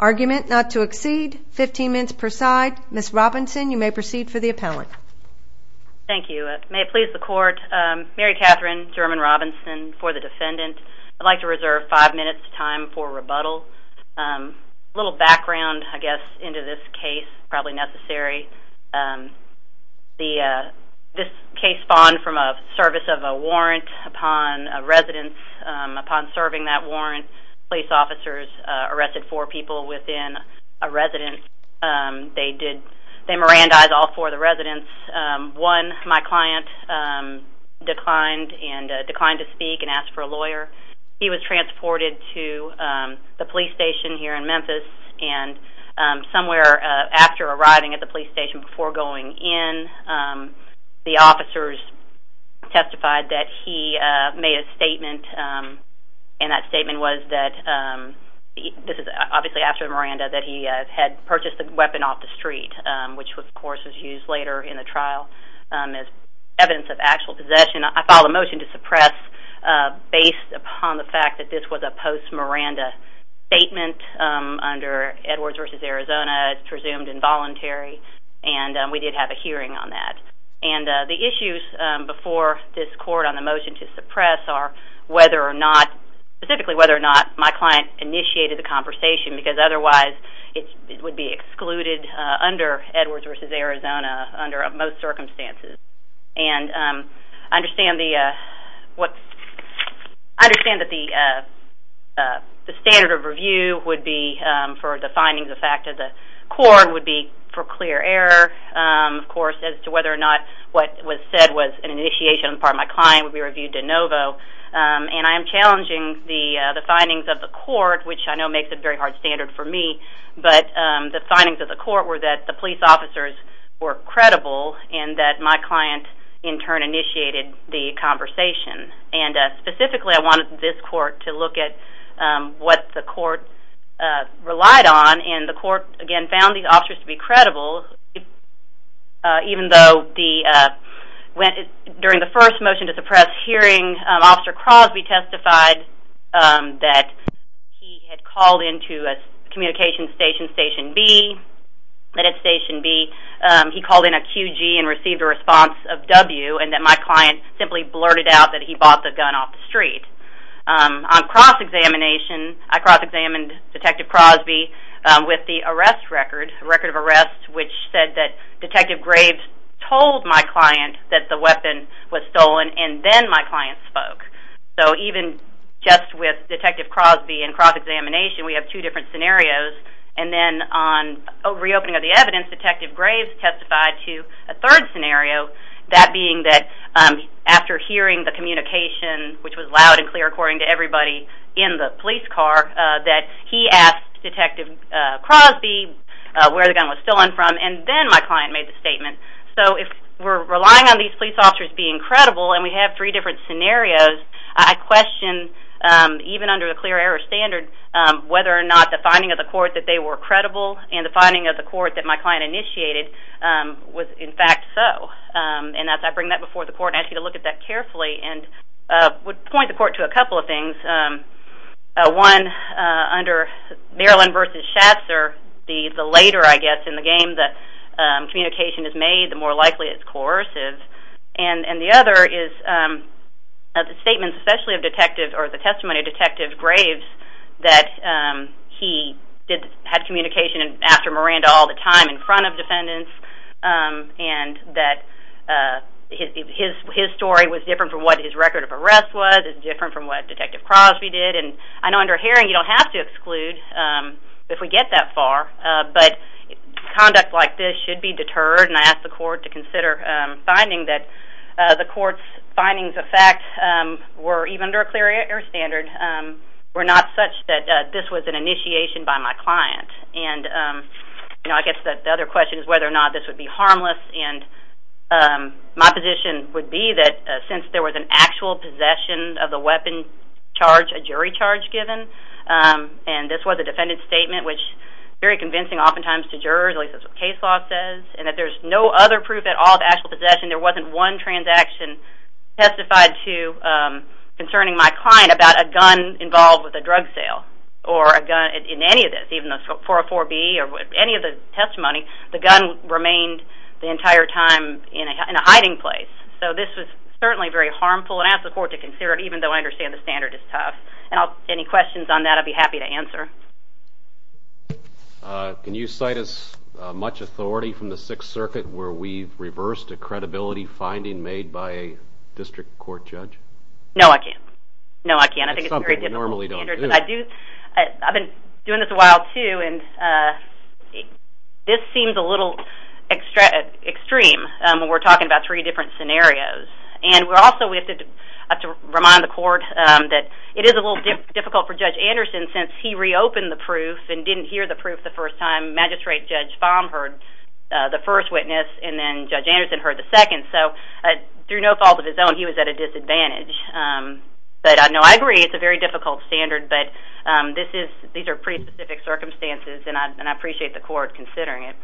Argument not to exceed 15 minutes per side. Ms. Robinson, you may proceed for the appellate. Thank you. May it please the court, Mary Catherine German Robinson for the defendant. I'd like to reserve five minutes to time for rebuttal. A little background, I guess, into this case, probably necessary. This case spawned from a service of a warrant upon a residence. Upon serving that warrant, police officers arrested four people within a residence. They did, they Mirandized all four of the residents. One, my client, declined to speak and asked for a lawyer. He was transported to the police station here in Memphis. And somewhere after arriving at the police station, before going in, the officers testified that he made a statement. And that statement was that, this is obviously after Miranda, that he had purchased a weapon off the street, which of course was used later in the trial as evidence of actual possession. I filed a motion to suppress based upon the fact that this was a post-Miranda statement under Edwards v. Arizona, it's presumed involuntary, and we did have a hearing on that. And the issues before this court on the motion to suppress are whether or not, specifically whether or not my client initiated the conversation, because otherwise it would be excluded under Edwards v. Arizona under most circumstances. And I understand the, I understand that the standard of review would be, for the findings of fact of the court, would be for clear error, of course as to whether or not what was said was an initiation on the part of my client would be reviewed de novo. And I am challenging the findings of the court, which I know makes it a very hard standard for me, but the findings of the court were that the police officers were credible, and that my client in turn initiated the conversation. And specifically I wanted this court to look at what the court relied on, and the court again found these officers to be credible, even though during the first motion to suppress hearing, when Officer Crosby testified that he had called into a communications station, Station B, that at Station B he called in a QG and received a response of W, and that my client simply blurted out that he bought the gun off the street. On cross-examination, I cross-examined Detective Crosby with the arrest record, the record of arrest which said that Detective Graves told my client that the weapon was stolen, and then my client spoke. So even just with Detective Crosby and cross-examination, we have two different scenarios. And then on reopening of the evidence, Detective Graves testified to a third scenario, that being that after hearing the communication, which was loud and clear according to everybody in the police car, that he asked Detective Crosby where the gun was stolen from, and then my client made the statement. So if we're relying on these police officers being credible, and we have three different scenarios, I question, even under the clear error standard, whether or not the finding of the court that they were credible and the finding of the court that my client initiated was in fact so. And as I bring that before the court and ask you to look at that carefully, I would point the court to a couple of things. One, under Maryland v. Schatzer, the later, I guess, in the game that communication is made, the more likely it's coercive. And the other is the statements especially of Detective, or the testimony of Detective Graves, that he had communication after Miranda all the time in front of defendants, and that his story was different from what his record of arrest was, is different from what Detective Crosby did. And I know under Haring you don't have to exclude if we get that far, but conduct like this should be deterred. And I ask the court to consider finding that the court's findings of fact were, even under a clear error standard, were not such that this was an initiation by my client. And I guess the other question is whether or not this would be harmless. And my position would be that since there was an actual possession of the weapon charged, a jury charge given, and this was a defendant's statement, which is very convincing oftentimes to jurors, at least that's what case law says, and that there's no other proof at all of actual possession, there wasn't one transaction testified to concerning my client about a gun involved with a drug sale or a gun in any of this, even the 404B or any of the testimony, the gun remained the entire time in a hiding place. So this was certainly very harmful, and I ask the court to consider it, even though I understand the standard is tough. And any questions on that I'd be happy to answer. Can you cite as much authority from the Sixth Circuit where we've reversed a credibility finding made by a district court judge? No, I can't. No, I can't. I think it's a very difficult standard. I've been doing this a while, too, and this seems a little extreme when we're talking about three different scenarios. And also we have to remind the court that it is a little difficult for Judge Anderson since he reopened the proof and didn't hear the proof the first time. Magistrate Judge Baum heard the first witness, and then Judge Anderson heard the second. So through no fault of his own, he was at a disadvantage. But, no, I agree it's a very difficult standard, but these are pretty specific circumstances, and I appreciate the court considering it.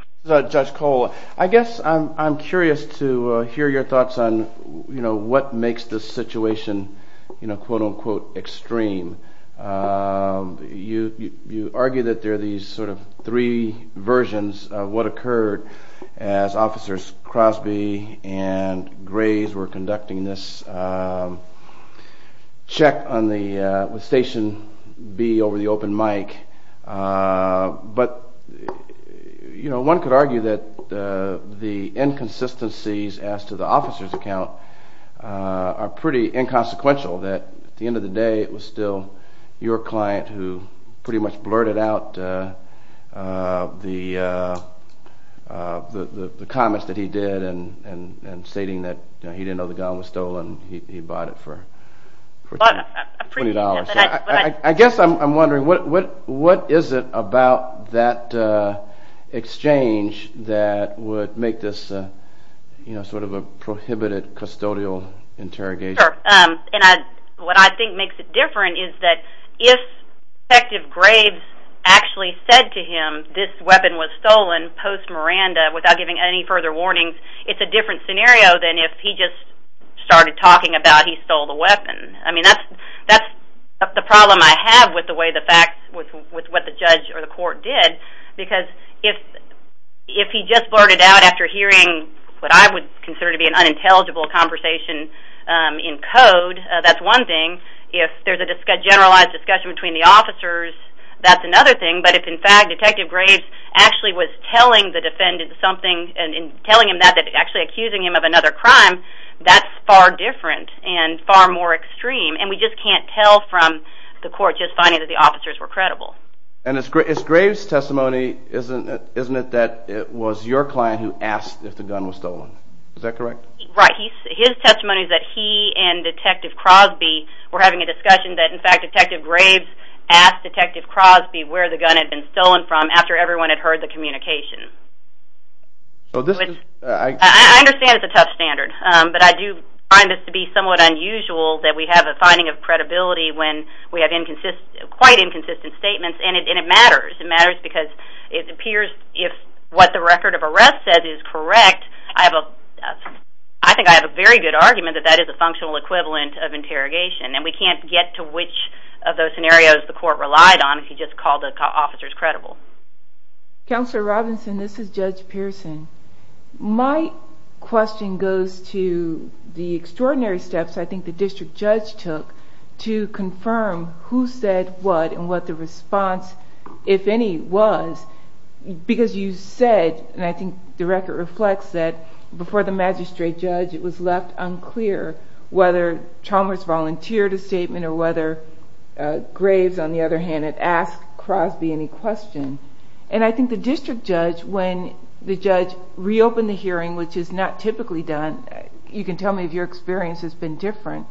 Judge Cole, I guess I'm curious to hear your thoughts on what makes this situation quote-unquote extreme. You argue that there are these sort of three versions of what occurred as Officers Crosby and Graves were conducting this check with Station B over the open mic. But one could argue that the inconsistencies as to the officer's account are pretty inconsequential, that at the end of the day it was still your client who pretty much blurted out the comments that he did and stating that he didn't know the gun was stolen, he bought it for $20. I guess I'm wondering, what is it about that exchange that would make this sort of a prohibited custodial interrogation? Sure, and what I think makes it different is that if Detective Graves actually said to him this weapon was stolen post-Miranda without giving any further warnings, it's a different scenario than if he just started talking about he stole the weapon. I mean, that's the problem I have with the way the facts, with what the judge or the court did, because if he just blurted out after hearing what I would consider to be an unintelligible conversation in code, that's one thing. If there's a generalized discussion between the officers, that's another thing. But if in fact Detective Graves actually was telling the defendant something and telling him that, actually accusing him of another crime, that's far different and far more extreme. And we just can't tell from the court just finding that the officers were credible. And it's Graves' testimony, isn't it, that it was your client who asked if the gun was stolen? Is that correct? Right, his testimony is that he and Detective Crosby were having a discussion that in fact Detective Graves asked Detective Crosby where the gun had been stolen from after everyone had heard the communication. I understand it's a tough standard, but I do find this to be somewhat unusual that we have a finding of credibility when we have quite inconsistent statements. And it matters. It matters because it appears if what the record of arrest says is correct, I think I have a very good argument that that is a functional equivalent of interrogation. And we can't get to which of those scenarios the court relied on if he just called the officers credible. Counselor Robinson, this is Judge Pearson. My question goes to the extraordinary steps I think the district judge took to confirm who said what and what the response, if any, was. Because you said, and I think the record reflects that, before the magistrate judge it was left unclear whether Chalmers volunteered a statement or whether Graves, on the other hand, had asked Crosby any question. And I think the district judge, when the judge reopened the hearing, which is not typically done, you can tell me if your experience has been different,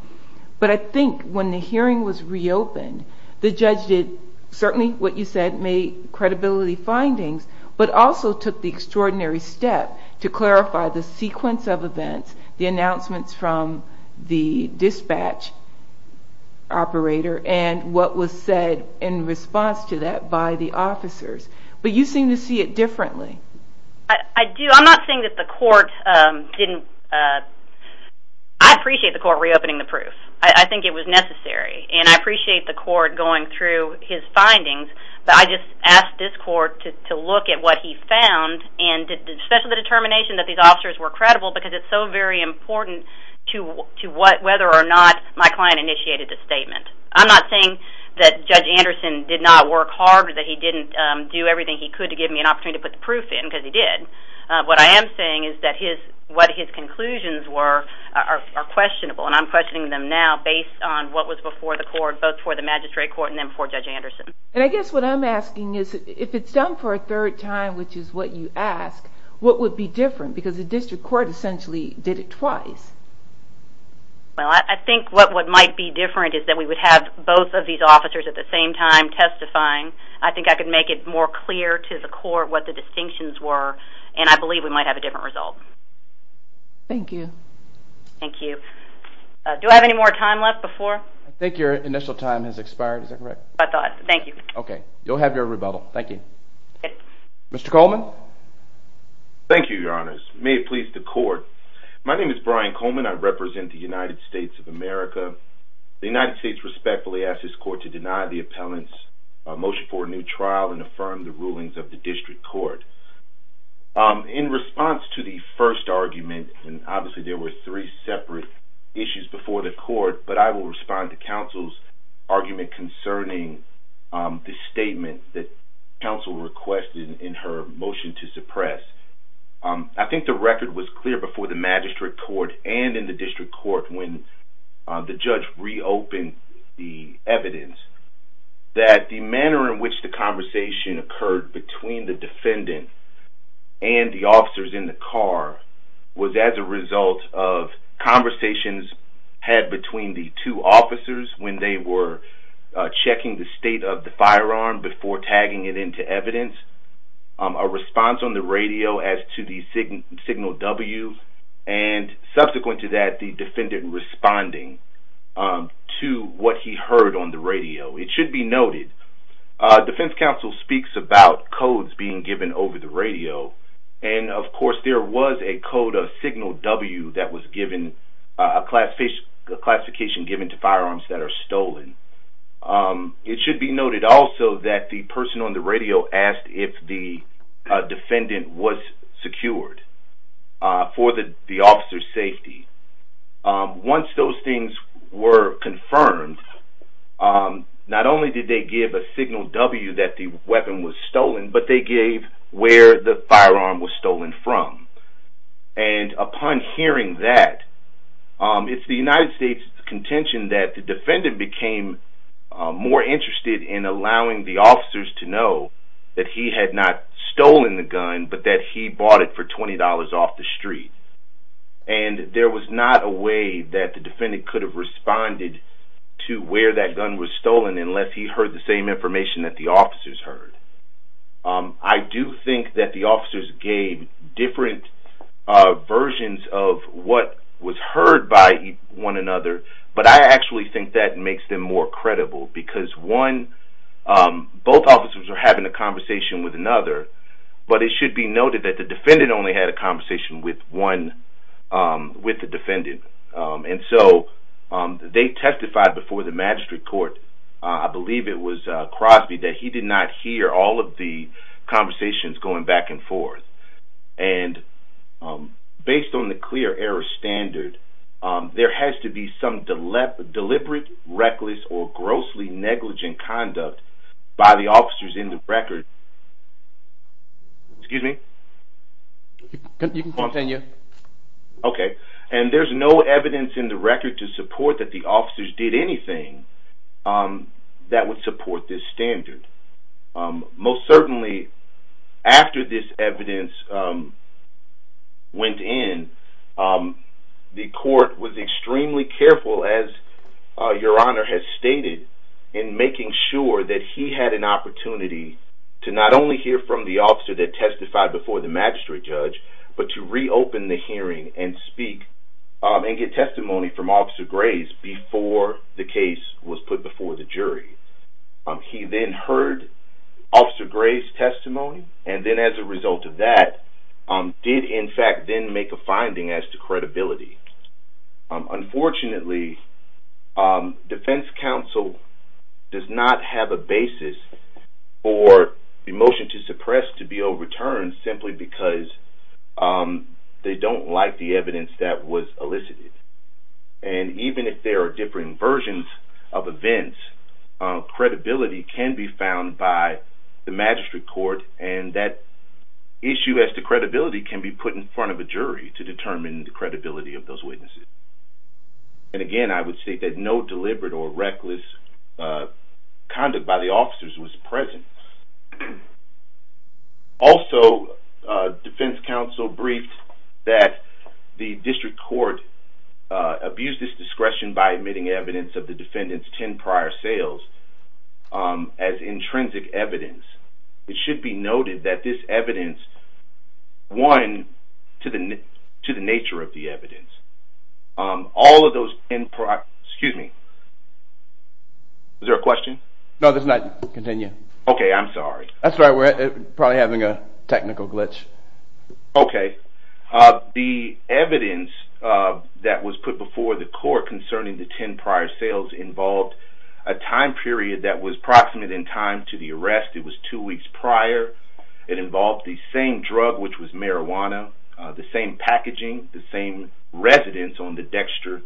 but I think when the hearing was reopened, the judge did certainly what you said, made credibility findings, but also took the extraordinary step to clarify the sequence of events, the announcements from the dispatch operator, and what was said in response to that by the officers. But you seem to see it differently. I do. I'm not saying that the court didn't... I appreciate the court reopening the proof. I think it was necessary. And I appreciate the court going through his findings, but I just ask this court to look at what he found, and especially the determination that these officers were credible, because it's so very important to whether or not my client initiated the statement. I'm not saying that Judge Anderson did not work hard or that he didn't do everything he could to give me an opportunity to put the proof in, because he did. What I am saying is that what his conclusions were are questionable, and I'm questioning them now based on what was before the court, both before the magistrate court and then before Judge Anderson. And I guess what I'm asking is, if it's done for a third time, which is what you asked, what would be different? Because the district court essentially did it twice. Well, I think what might be different is that we would have both of these officers at the same time testifying. I think I could make it more clear to the court what the distinctions were, and I believe we might have a different result. Thank you. Thank you. Do I have any more time left before... I think your initial time has expired. Is that correct? I thought. Thank you. Okay. You'll have your rebuttal. Thank you. Mr. Coleman? Thank you, Your Honors. May it please the court. My name is Brian Coleman. I represent the United States of America. The United States respectfully asks this court to deny the appellant's motion for a new trial and affirm the rulings of the district court. In response to the first argument, and obviously there were three separate issues before the court, but I will respond to counsel's argument concerning the statement that counsel requested in her motion to suppress. I think the record was clear before the magistrate court and in the district court when the judge reopened the evidence that the manner in which the conversation occurred between the defendant and the officers in the car was as a result of conversations had between the two officers when they were checking the state of the firearm before tagging it into evidence. A response on the radio as to the signal W and subsequent to that the defendant responding to what he heard on the radio. It should be noted defense counsel speaks about codes being given over the radio and of course there was a code of signal W that was given, a classification given to firearms that are stolen. It should be noted also that the person on the radio asked if the defendant was secured for the officer's safety. Once those things were confirmed, not only did they give a signal W that the weapon was stolen, but they gave where the firearm was stolen from. And upon hearing that, it's the United States contention that the defendant became more interested in allowing the officers to know that he had not stolen the gun, but that he bought it for $20 off the street. And there was not a way that the defendant could have responded to where that gun was stolen unless he heard the same information that the officers heard. I do think that the officers gave different versions of what was heard by one another, but I actually think that makes them more credible because one, both officers are having a conversation with another, but it should be noted that the defendant only had a conversation with the defendant. And so they testified before the magistrate court, I believe it was Crosby, that he did not hear all of the conversations going back and forth. And based on the clear error standard, there has to be some deliberate, reckless, or grossly negligent conduct by the officers in the record. Excuse me? You can continue. Okay. And there's no evidence in the record to support that the officers did anything that would support this standard. Most certainly, after this evidence went in, the court was extremely careful, as Your Honor has stated, in making sure that he had an opportunity to not only hear from the officer that testified before the magistrate judge, but to reopen the hearing and speak and get testimony from Officer Grace before the case was put before the jury. He then heard Officer Grace's testimony, and then as a result of that did, in fact, then make a finding as to credibility. Unfortunately, defense counsel does not have a basis for the motion to suppress to be overturned simply because they don't like the evidence that was elicited. And even if there are different versions of events, credibility can be found by the magistrate court, and that issue as to credibility can be put in front of a jury to determine the credibility of those witnesses. And again, I would state that no deliberate or reckless conduct by the officers was present. Also, defense counsel briefed that the district court abused its discretion by admitting evidence of the defendant's 10 prior sales as intrinsic evidence. It should be noted that this evidence won to the nature of the evidence. All of those 10 prior... Excuse me. Is there a question? No, there's not. Continue. Okay, I'm sorry. That's all right. We're probably having a technical glitch. Okay. The evidence that was put before the court concerning the 10 prior sales involved a time period that was proximate in time to the arrest. It was two weeks prior. It involved the same drug, which was marijuana, the same packaging, the same residence on the Dexter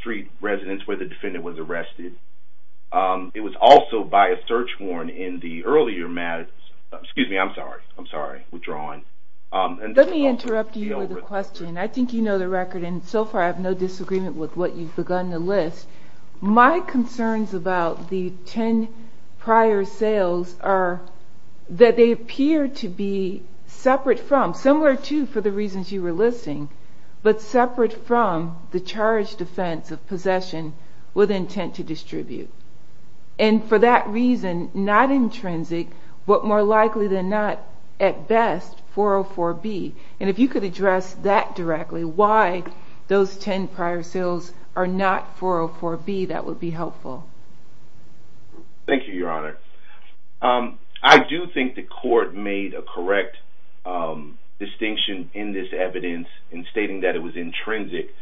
Street residence where the defendant was arrested. It was also by a search warrant in the earlier... Excuse me. I'm sorry. I'm sorry. Withdrawing. Let me interrupt you with a question. I think you know the record, and so far I have no disagreement with what you've begun to list. My concerns about the 10 prior sales are that they appear to be separate from, similar to for the reasons you were listing, but separate from the charge defense of possession with intent to distribute. And for that reason, not intrinsic, but more likely than not, at best, 404B. And if you could address that directly, why those 10 prior sales are not 404B, that would be helpful. Thank you, Your Honor. I do think the court made a correct distinction in this evidence in stating that it was intrinsic.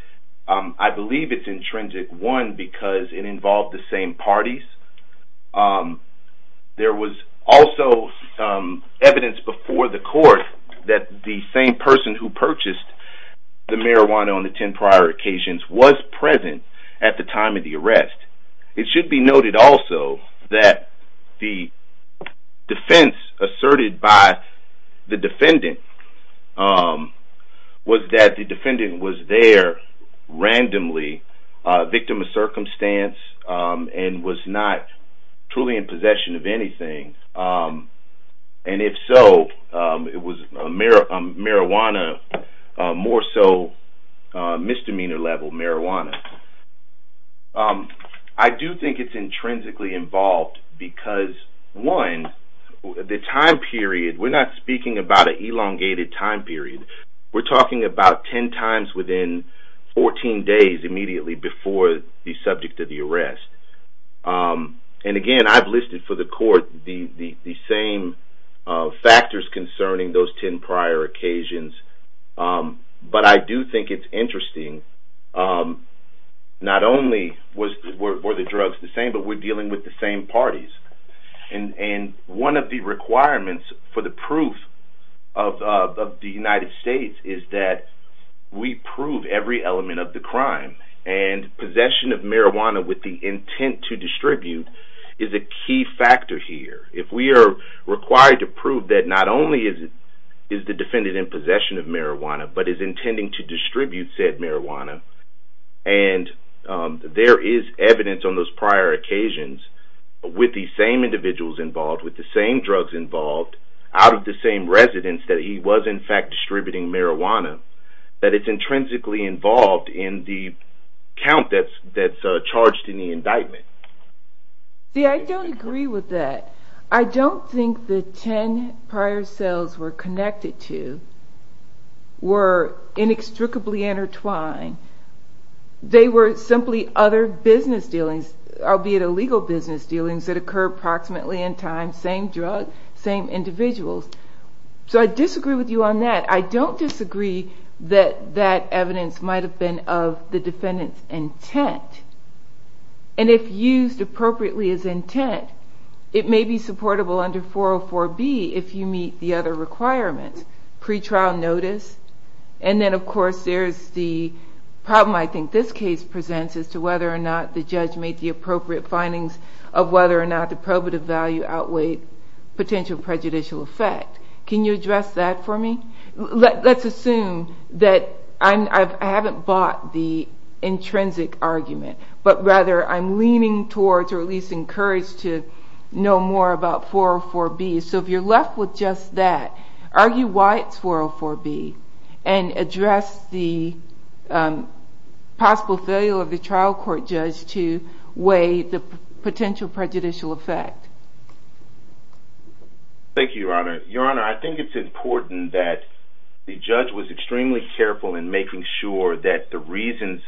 I believe it's intrinsic, one, because it involved the same parties. There was also evidence before the court that the same person who purchased the marijuana on the 10 prior occasions was present at the time of the arrest. It should be noted also that the defense asserted by the defendant was that the defendant was there randomly, victim of circumstance, and was not truly in possession of anything. And if so, it was marijuana, more so misdemeanor-level marijuana. I do think it's intrinsically involved because, one, the time period, we're not speaking about an elongated time period. We're talking about 10 times within 14 days immediately before the subject of the arrest. And, again, I've listed for the court the same factors concerning those 10 prior occasions. But I do think it's interesting, not only were the drugs the same, but we're dealing with the same parties. And one of the requirements for the proof of the United States is that we prove every element of the crime. And possession of marijuana with the intent to distribute is a key factor here. If we are required to prove that not only is the defendant in possession of marijuana, but is intending to distribute said marijuana, and there is evidence on those prior occasions with the same individuals involved, with the same drugs involved, out of the same residence that he was, in fact, distributing marijuana, that it's intrinsically involved in the count that's charged in the indictment. See, I don't agree with that. I don't think the 10 prior cells we're connected to were inextricably intertwined. They were simply other business dealings, albeit illegal business dealings, that occur approximately in time, same drug, same individuals. So I disagree with you on that. I don't disagree that that evidence might have been of the defendant's intent. And if used appropriately as intent, it may be supportable under 404B if you meet the other requirements, pretrial notice. And then, of course, there's the problem I think this case presents as to whether or not the judge made the appropriate findings of whether or not the probative value outweighed potential prejudicial effect. Can you address that for me? Let's assume that I haven't bought the intrinsic argument, but rather I'm leaning towards or at least encouraged to know more about 404B. So if you're left with just that, argue why it's 404B and address the possible failure of the trial court judge to weigh the potential prejudicial effect. Thank you, Your Honor. Your Honor, I think it's important that the judge was extremely careful in making sure that the reasons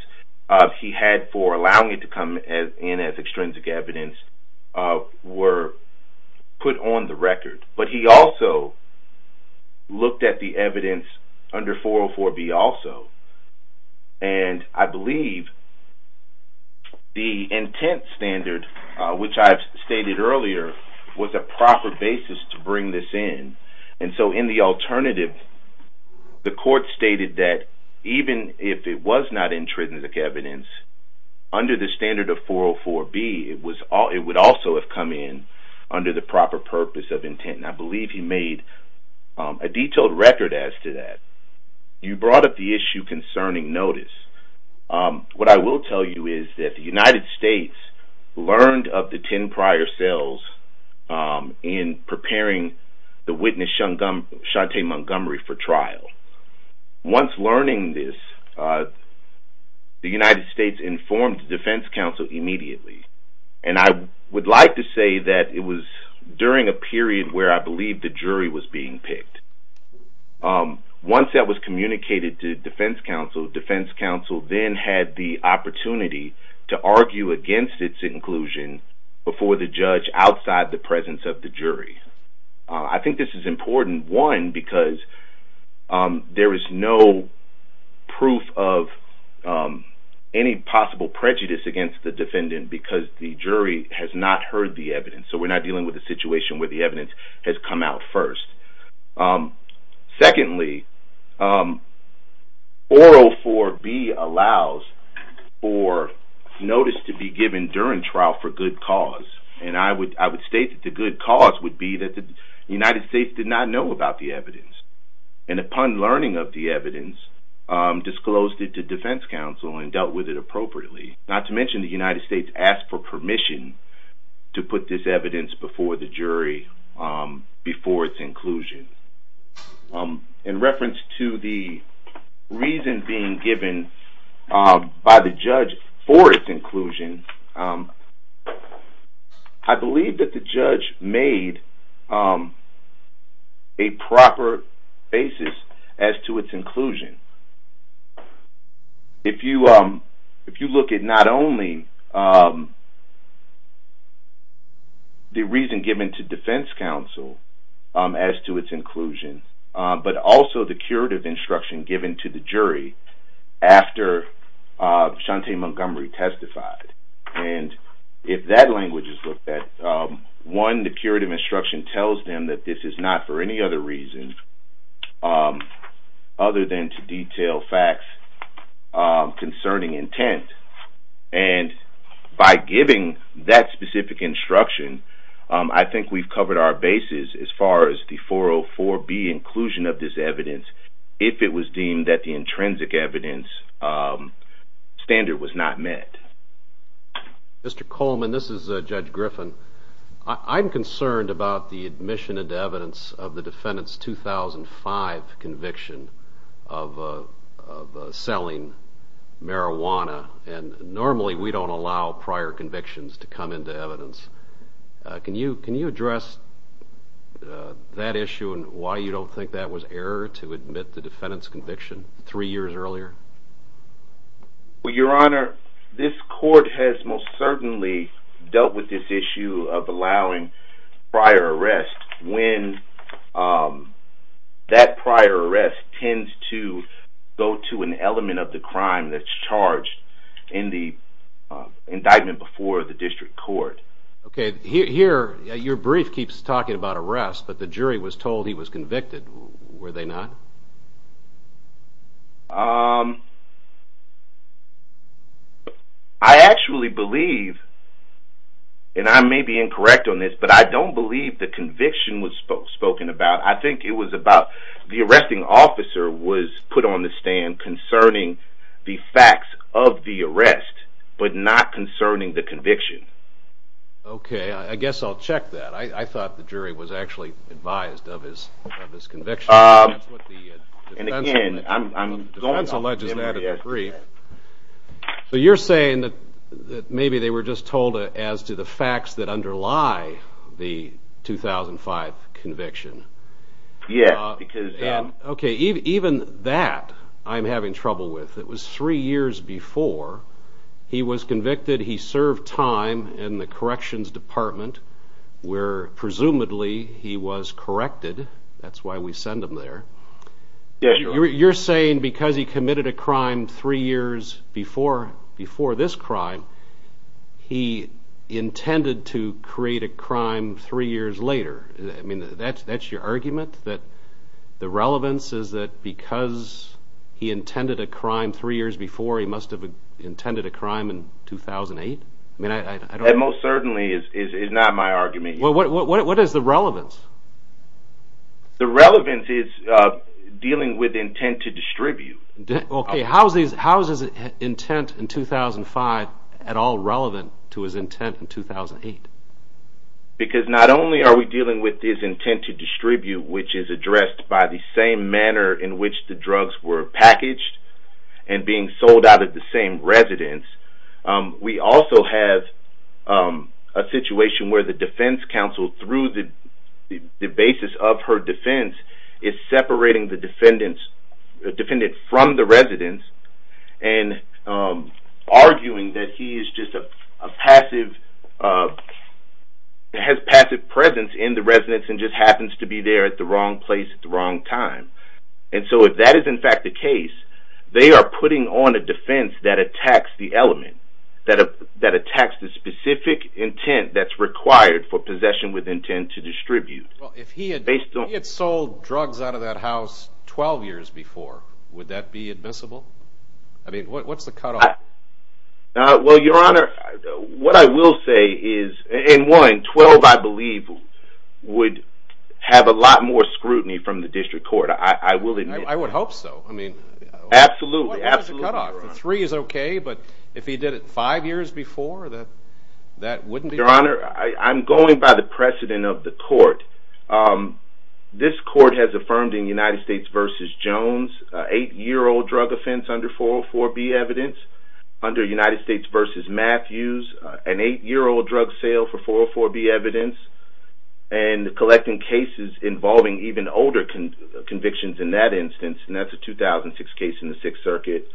he had for allowing it to come in as extrinsic evidence were put on the record. But he also looked at the evidence under 404B also. And I believe the intent standard, which I've stated earlier, was a proper basis to bring this in. And so in the alternative, the court stated that even if it was not extrinsic evidence, under the standard of 404B, it would also have come in under the proper purpose of intent. And I believe he made a detailed record as to that. You brought up the issue concerning notice. What I will tell you is that the United States learned of the 10 prior cells in preparing the witness, Shante Montgomery, for trial. Once learning this, the United States informed the Defense Council immediately. And I would like to say that it was during a period where I believe the jury was being picked. Once that was communicated to the Defense Council, the Defense Council then had the opportunity to argue against its inclusion before the judge outside the presence of the jury. I think this is important, one, because there is no proof of any possible prejudice against the defendant because the jury has not heard the evidence. So we're not dealing with a situation where the evidence has come out first. Secondly, 404B allows for notice to be given during trial for good cause. And I would state that the good cause would be that the United States did not know about the evidence. And upon learning of the evidence, disclosed it to Defense Council and dealt with it appropriately. Not to mention the United States asked for permission to put this evidence before the jury before its inclusion. In reference to the reason being given by the judge for its inclusion, I believe that the judge made a proper basis as to its inclusion. If you look at not only the reason given to Defense Council as to its inclusion, but also the curative instruction given to the jury after Shante Montgomery testified. And if that language is looked at, one, the curative instruction tells them that this is not for any other reason other than to detail facts concerning intent. And by giving that specific instruction, I think we've covered our basis as far as the 404B inclusion of this evidence if it was deemed that the intrinsic evidence standard was not met. Mr. Coleman, this is Judge Griffin. I'm concerned about the admission into evidence of the defendant's 2005 conviction of selling marijuana, and normally we don't allow prior convictions to come into evidence. Can you address that issue and why you don't think that was error to admit the defendant's conviction three years earlier? Well, Your Honor, this court has most certainly dealt with this issue of allowing prior arrests when that prior arrest tends to go to an element of the crime that's charged in the indictment before the district court. Okay, here your brief keeps talking about arrests, but the jury was told he was convicted. Were they not? I actually believe, and I may be incorrect on this, but I don't believe the conviction was spoken about. I think it was about the arresting officer was put on the stand concerning the facts of the arrest but not concerning the conviction. Okay, I guess I'll check that. I thought the jury was actually advised of his conviction. That's what the defense alleges in that brief. So you're saying that maybe they were just told as to the facts that underlie the 2005 conviction? Yes. Okay, even that I'm having trouble with. It was three years before he was convicted. He served time in the corrections department where presumably he was corrected. That's why we send him there. You're saying because he committed a crime three years before this crime, he intended to create a crime three years later. I mean, that's your argument, that the relevance is that because he intended a crime three years before, he must have intended a crime in 2008? That most certainly is not my argument. What is the relevance? The relevance is dealing with intent to distribute. Okay, how is his intent in 2005 at all relevant to his intent in 2008? We have a situation where the defense counsel, through the basis of her defense, is separating the defendant from the residence and arguing that he has passive presence in the residence at the wrong place at the wrong time. And so if that is in fact the case, they are putting on a defense that attacks the element, that attacks the specific intent that's required for possession with intent to distribute. If he had sold drugs out of that house 12 years before, would that be admissible? I mean, what's the cutoff? Well, Your Honor, what I will say is, in one, 12, I believe, would have a lot more scrutiny from the district court. I will admit that. I would hope so. Absolutely. What's the cutoff? Three is okay, but if he did it five years before, that wouldn't be? Your Honor, I'm going by the precedent of the court. This court has affirmed in United States v. Jones, an eight-year-old drug offense under 404B evidence, under United States v. Matthews, an eight-year-old drug sale for 404B evidence, and collecting cases involving even older convictions in that instance, and that's a 2006 case in the Sixth Circuit.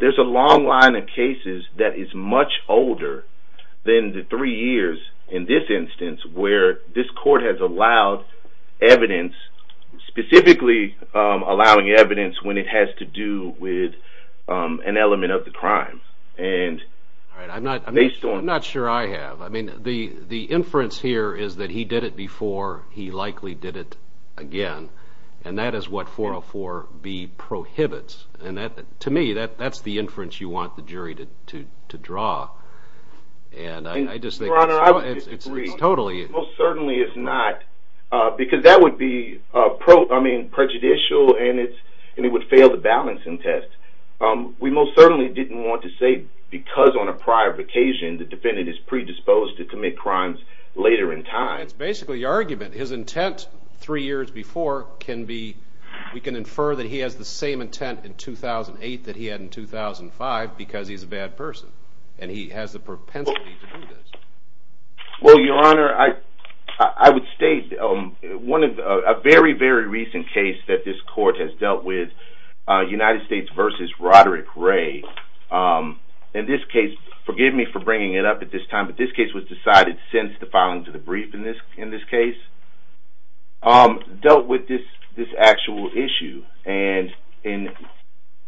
There's a long line of cases that is much older than the three years in this instance where this court has allowed evidence, specifically allowing evidence when it has to do with an element of the crime. I'm not sure I have. I mean, the inference here is that he did it before, he likely did it again, and that is what 404B prohibits. To me, that's the inference you want the jury to draw. Your Honor, I would disagree. Most certainly it's not, because that would be prejudicial and it would fail the balancing test. We most certainly didn't want to say because on a prior occasion the defendant is predisposed to commit crimes later in time. That's basically the argument. His intent three years before can be, we can infer that he has the same intent in 2008 that he had in 2005 because he's a bad person and he has the propensity to do this. Well, Your Honor, I would state a very, very recent case that this court has dealt with, United States v. Roderick Ray. In this case, forgive me for bringing it up at this time, but this case was decided since the filing to the brief in this case. Dealt with this actual issue and in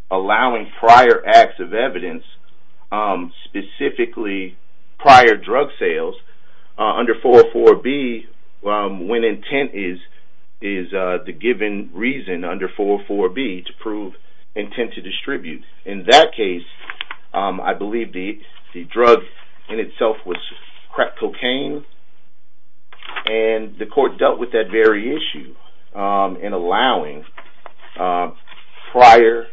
allowing prior acts of evidence, specifically prior drug sales under 404B when intent is the given reason under 404B to prove intent to distribute. In that case, I believe the drug in itself was crack cocaine and the court dealt with that very issue in allowing prior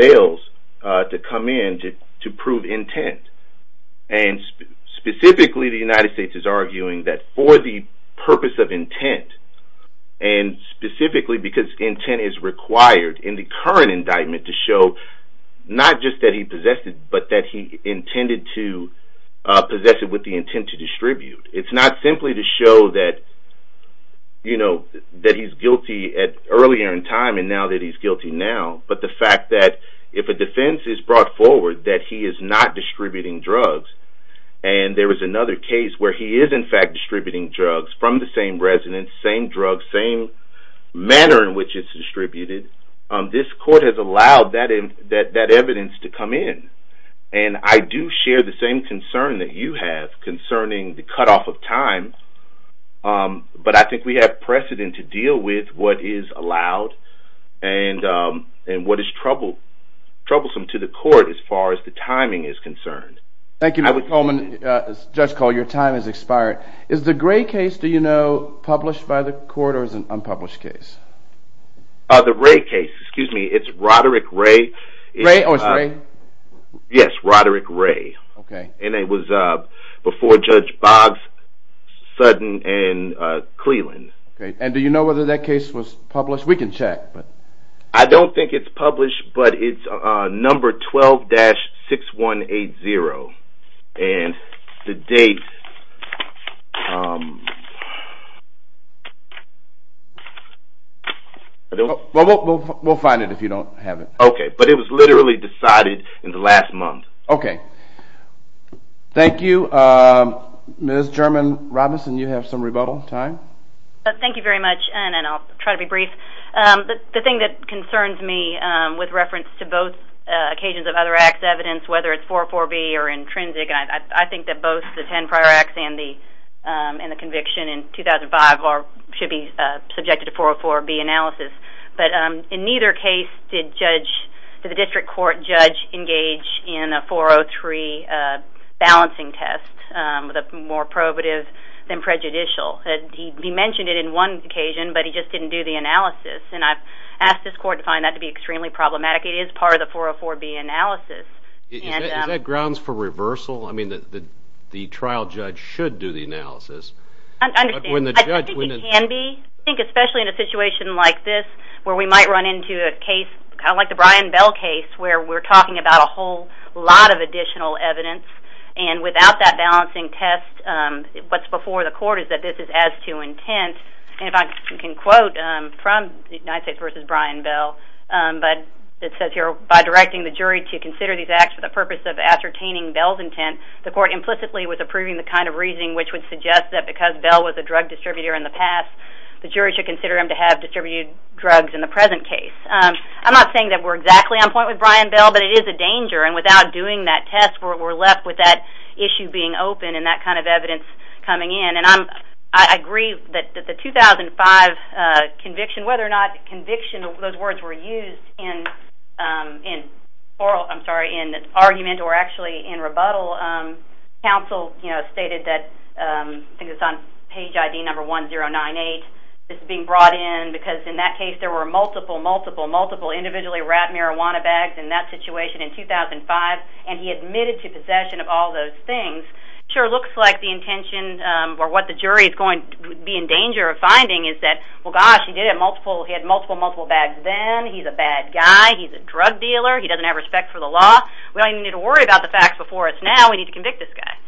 sales to come in to prove intent. Specifically, the United States is arguing that for the purpose of intent and specifically because intent is required in the current indictment to show not just that he possessed it, but that he intended to possess it with the intent to distribute. It's not simply to show that he's guilty earlier in time and now that he's guilty now, but the fact that if a defense is brought forward that he is not distributing drugs and there was another case where he is in fact distributing drugs from the same residence, same drug, same manner in which it's distributed, this court has allowed that evidence to come in. I do share the same concern that you have concerning the cutoff of time, but I think we have precedent to deal with what is allowed and what is troublesome to the court as far as the timing is concerned. Thank you, Judge Coleman. Judge Cole, your time has expired. Is the Gray case, do you know, published by the court or is it an unpublished case? The Ray case, excuse me. It's Roderick Ray. Ray? Oh, it's Ray? Yes, Roderick Ray. And it was before Judge Boggs, Sutton, and Cleland. And do you know whether that case was published? We can check. I don't think it's published, but it's number 12-6180. And the date... We'll find it if you don't have it. Okay, but it was literally decided in the last month. Okay. Thank you. Ms. German-Robinson, you have some rebuttal time. Thank you very much, and I'll try to be brief. The thing that concerns me with reference to both occasions of other acts evidence, whether it's 404B or intrinsic, I think that both the 10 prior acts and the conviction in 2005 should be subjected to 404B analysis. But in neither case did the district court judge engage in a 403 balancing test, the more probative than prejudicial. He mentioned it in one occasion, but he just didn't do the analysis. And I've asked this court to find that to be extremely problematic. It is part of the 404B analysis. Is that grounds for reversal? I mean, the trial judge should do the analysis. I don't think he can be. I think especially in a situation like this where we might run into a case, kind of like the Brian Bell case, where we're talking about a whole lot of additional evidence, and without that balancing test, what's before the court is that this is as to intent. And if I can quote from the United States v. Brian Bell, but it says here, by directing the jury to consider these acts for the purpose of ascertaining Bell's intent, the court implicitly was approving the kind of reasoning which would suggest that because Bell was a drug distributor in the past, the jury should consider him to have distributed drugs in the present case. I'm not saying that we're exactly on point with Brian Bell, but it is a danger. And without doing that test, we're left with that issue being open and that kind of evidence coming in. And I agree that the 2005 conviction, whether or not conviction, those words were used in oral, I'm sorry, in argument or actually in rebuttal, counsel stated that, I think it's on page ID number 1098, this is being brought in because in that case there were multiple, multiple, multiple individually wrapped marijuana bags in that situation in 2005, and he admitted to possession of all those things. It sure looks like the intention, or what the jury is going to be in danger of finding is that, well gosh, he did it, he had multiple, multiple bags then, he's a bad guy, he's a drug dealer, he doesn't have respect for the law, we don't even need to worry about the facts before it's now, we need to convict this guy.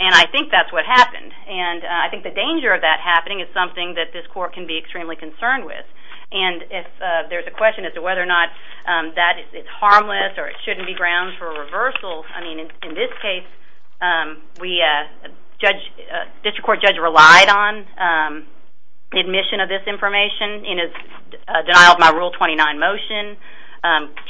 And I think that's what happened. And I think the danger of that happening is something that this court can be extremely concerned with. And if there's a question as to whether or not that is harmless or it shouldn't be ground for reversal, I mean, in this case, we, judge, district court judge relied on admission of this information in his denial of my Rule 29 motion,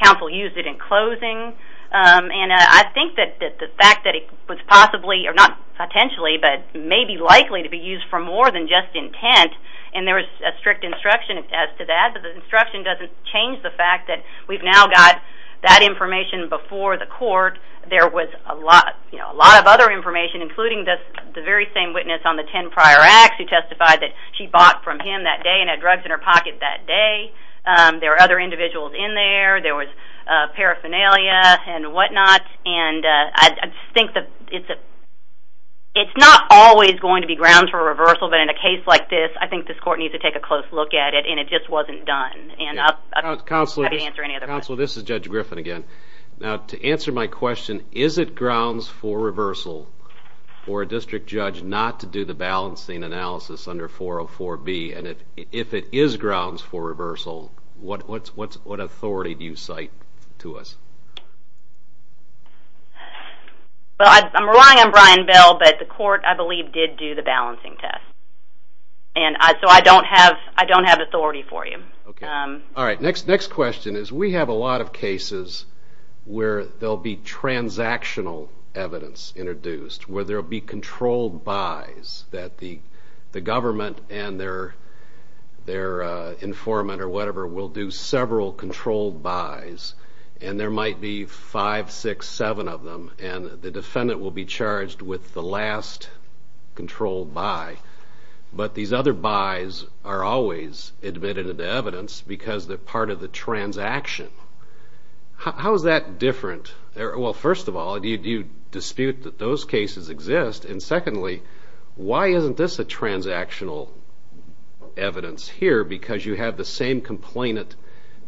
counsel used it in closing, and I think that the fact that it was possibly, or not potentially, but maybe likely to be used for more than just intent, and there was a strict instruction as to that, but the instruction doesn't change the fact that we've now got that information before the court, there was a lot of other information, including the very same witness on the 10 prior acts who testified that she bought from him that day and had drugs in her pocket that day, there were other individuals in there, there was paraphernalia and whatnot, and I think that it's not always going to be ground for reversal, but in a case like this, I think this court needs to take a close look at it, and it just wasn't done. Counsel, this is Judge Griffin again. Now, to answer my question, is it grounds for reversal for a district judge not to do the balancing analysis under 404B, and if it is grounds for reversal, what authority do you cite to us? Well, I'm relying on Brian Bell, but the court, I believe, did do the balancing test, and so I don't have authority for you. Okay. All right. Next question is we have a lot of cases where there will be transactional evidence introduced, where there will be controlled buys that the government and their informant or whatever will do several controlled buys, and there might be five, six, seven of them, and the defendant will be charged with the last controlled buy, but these other buys are always admitted into evidence because they're part of the transaction. How is that different? Well, first of all, do you dispute that those cases exist? And secondly, why isn't this a transactional evidence here? Because you have the same complainant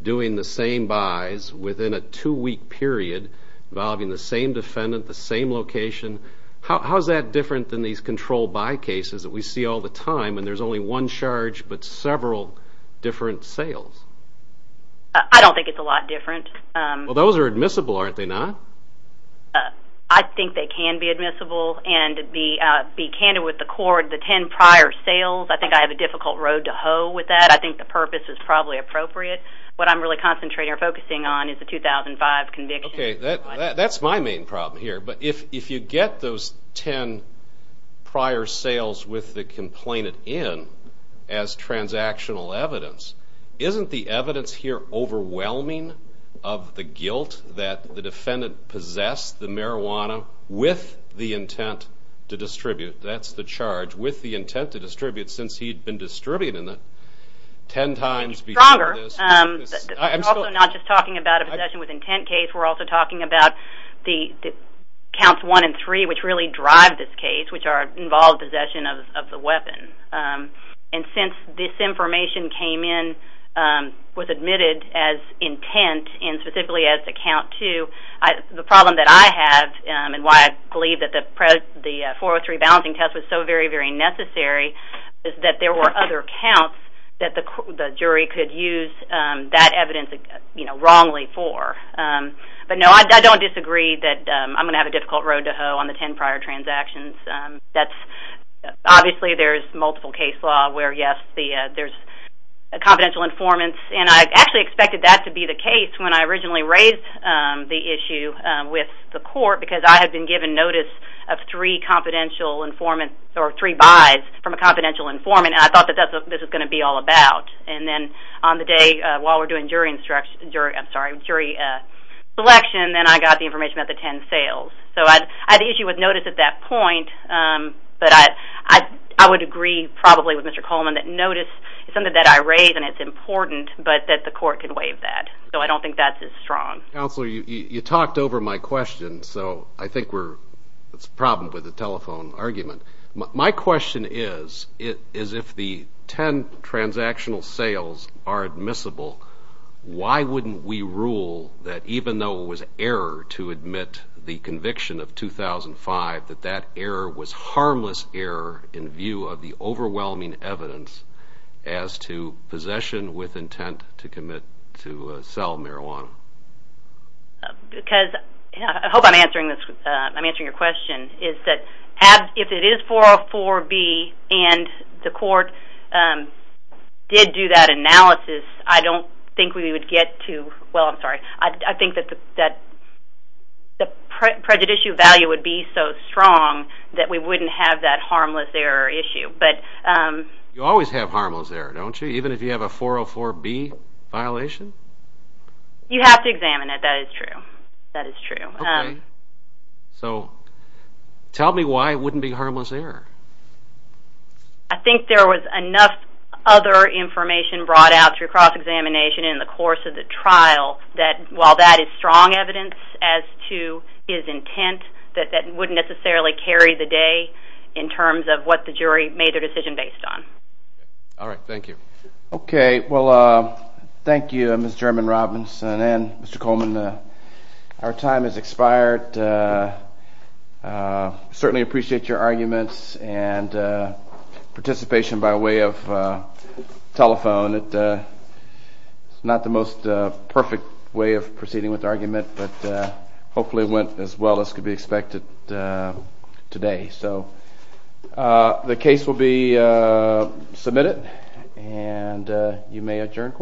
doing the same buys within a two-week period involving the same defendant, the same location. How is that different than these controlled buy cases that we see all the time, and there's only one charge but several different sales? I don't think it's a lot different. Well, those are admissible, aren't they not? I think they can be admissible, and to be candid with the court, the ten prior sales, I think I have a difficult road to hoe with that. I think the purpose is probably appropriate. What I'm really concentrating or focusing on is the 2005 conviction. Okay, that's my main problem here. But if you get those ten prior sales with the complainant in as transactional evidence, isn't the evidence here overwhelming of the guilt that the defendant possessed the marijuana with the intent to distribute? That's the charge, with the intent to distribute, since he'd been distributing it ten times before this. It's stronger. We're also not just talking about a possession with intent case. We're also talking about the counts one and three, which really drive this case, which involve possession of the weapon. And since this information came in, was admitted as intent and specifically as a count two, the problem that I have and why I believe that the 403 balancing test was so very, very necessary is that there were other counts that the jury could use that evidence wrongly for. But, no, I don't disagree that I'm going to have a difficult road to hoe on the ten prior transactions. Obviously, there's multiple case law where, yes, there's a confidential informant, and I actually expected that to be the case when I originally raised the issue with the court because I had been given notice of three confidential informants, or three buys from a confidential informant, and I thought that this was going to be all about. And then on the day, while we're doing jury selection, then I got the information about the ten sales. So I had the issue with notice at that point, but I would agree probably with Mr. Coleman that notice is something that I raise and it's important, but that the court can waive that. So I don't think that's as strong. Counselor, you talked over my question, so I think we're... it's a problem with the telephone argument. My question is, is if the ten transactional sales are admissible, why wouldn't we rule that even though it was error to admit the conviction of 2005, that that error was harmless error in view of the overwhelming evidence as to possession with intent to commit to sell marijuana? Because... I hope I'm answering your question, is that if it is 404B and the court did do that analysis, I don't think we would get to... well, I'm sorry. I think that the prejudicial value would be so strong that we wouldn't have that harmless error issue, but... You always have harmless error, don't you, even if you have a 404B violation? You have to examine it. That is true. That is true. Okay. So tell me why it wouldn't be harmless error. I think there was enough other information brought out through cross-examination in the course of the trial that while that is strong evidence as to his intent, that that wouldn't necessarily carry the day in terms of what the jury made their decision based on. All right. Thank you. Okay. Well, thank you, Ms. German-Robinson and Mr. Coleman. Our time has expired. I certainly appreciate your arguments and participation by way of telephone. It's not the most perfect way of proceeding with argument, but hopefully it went as well as could be expected today. So the case will be submitted, and you may adjourn court.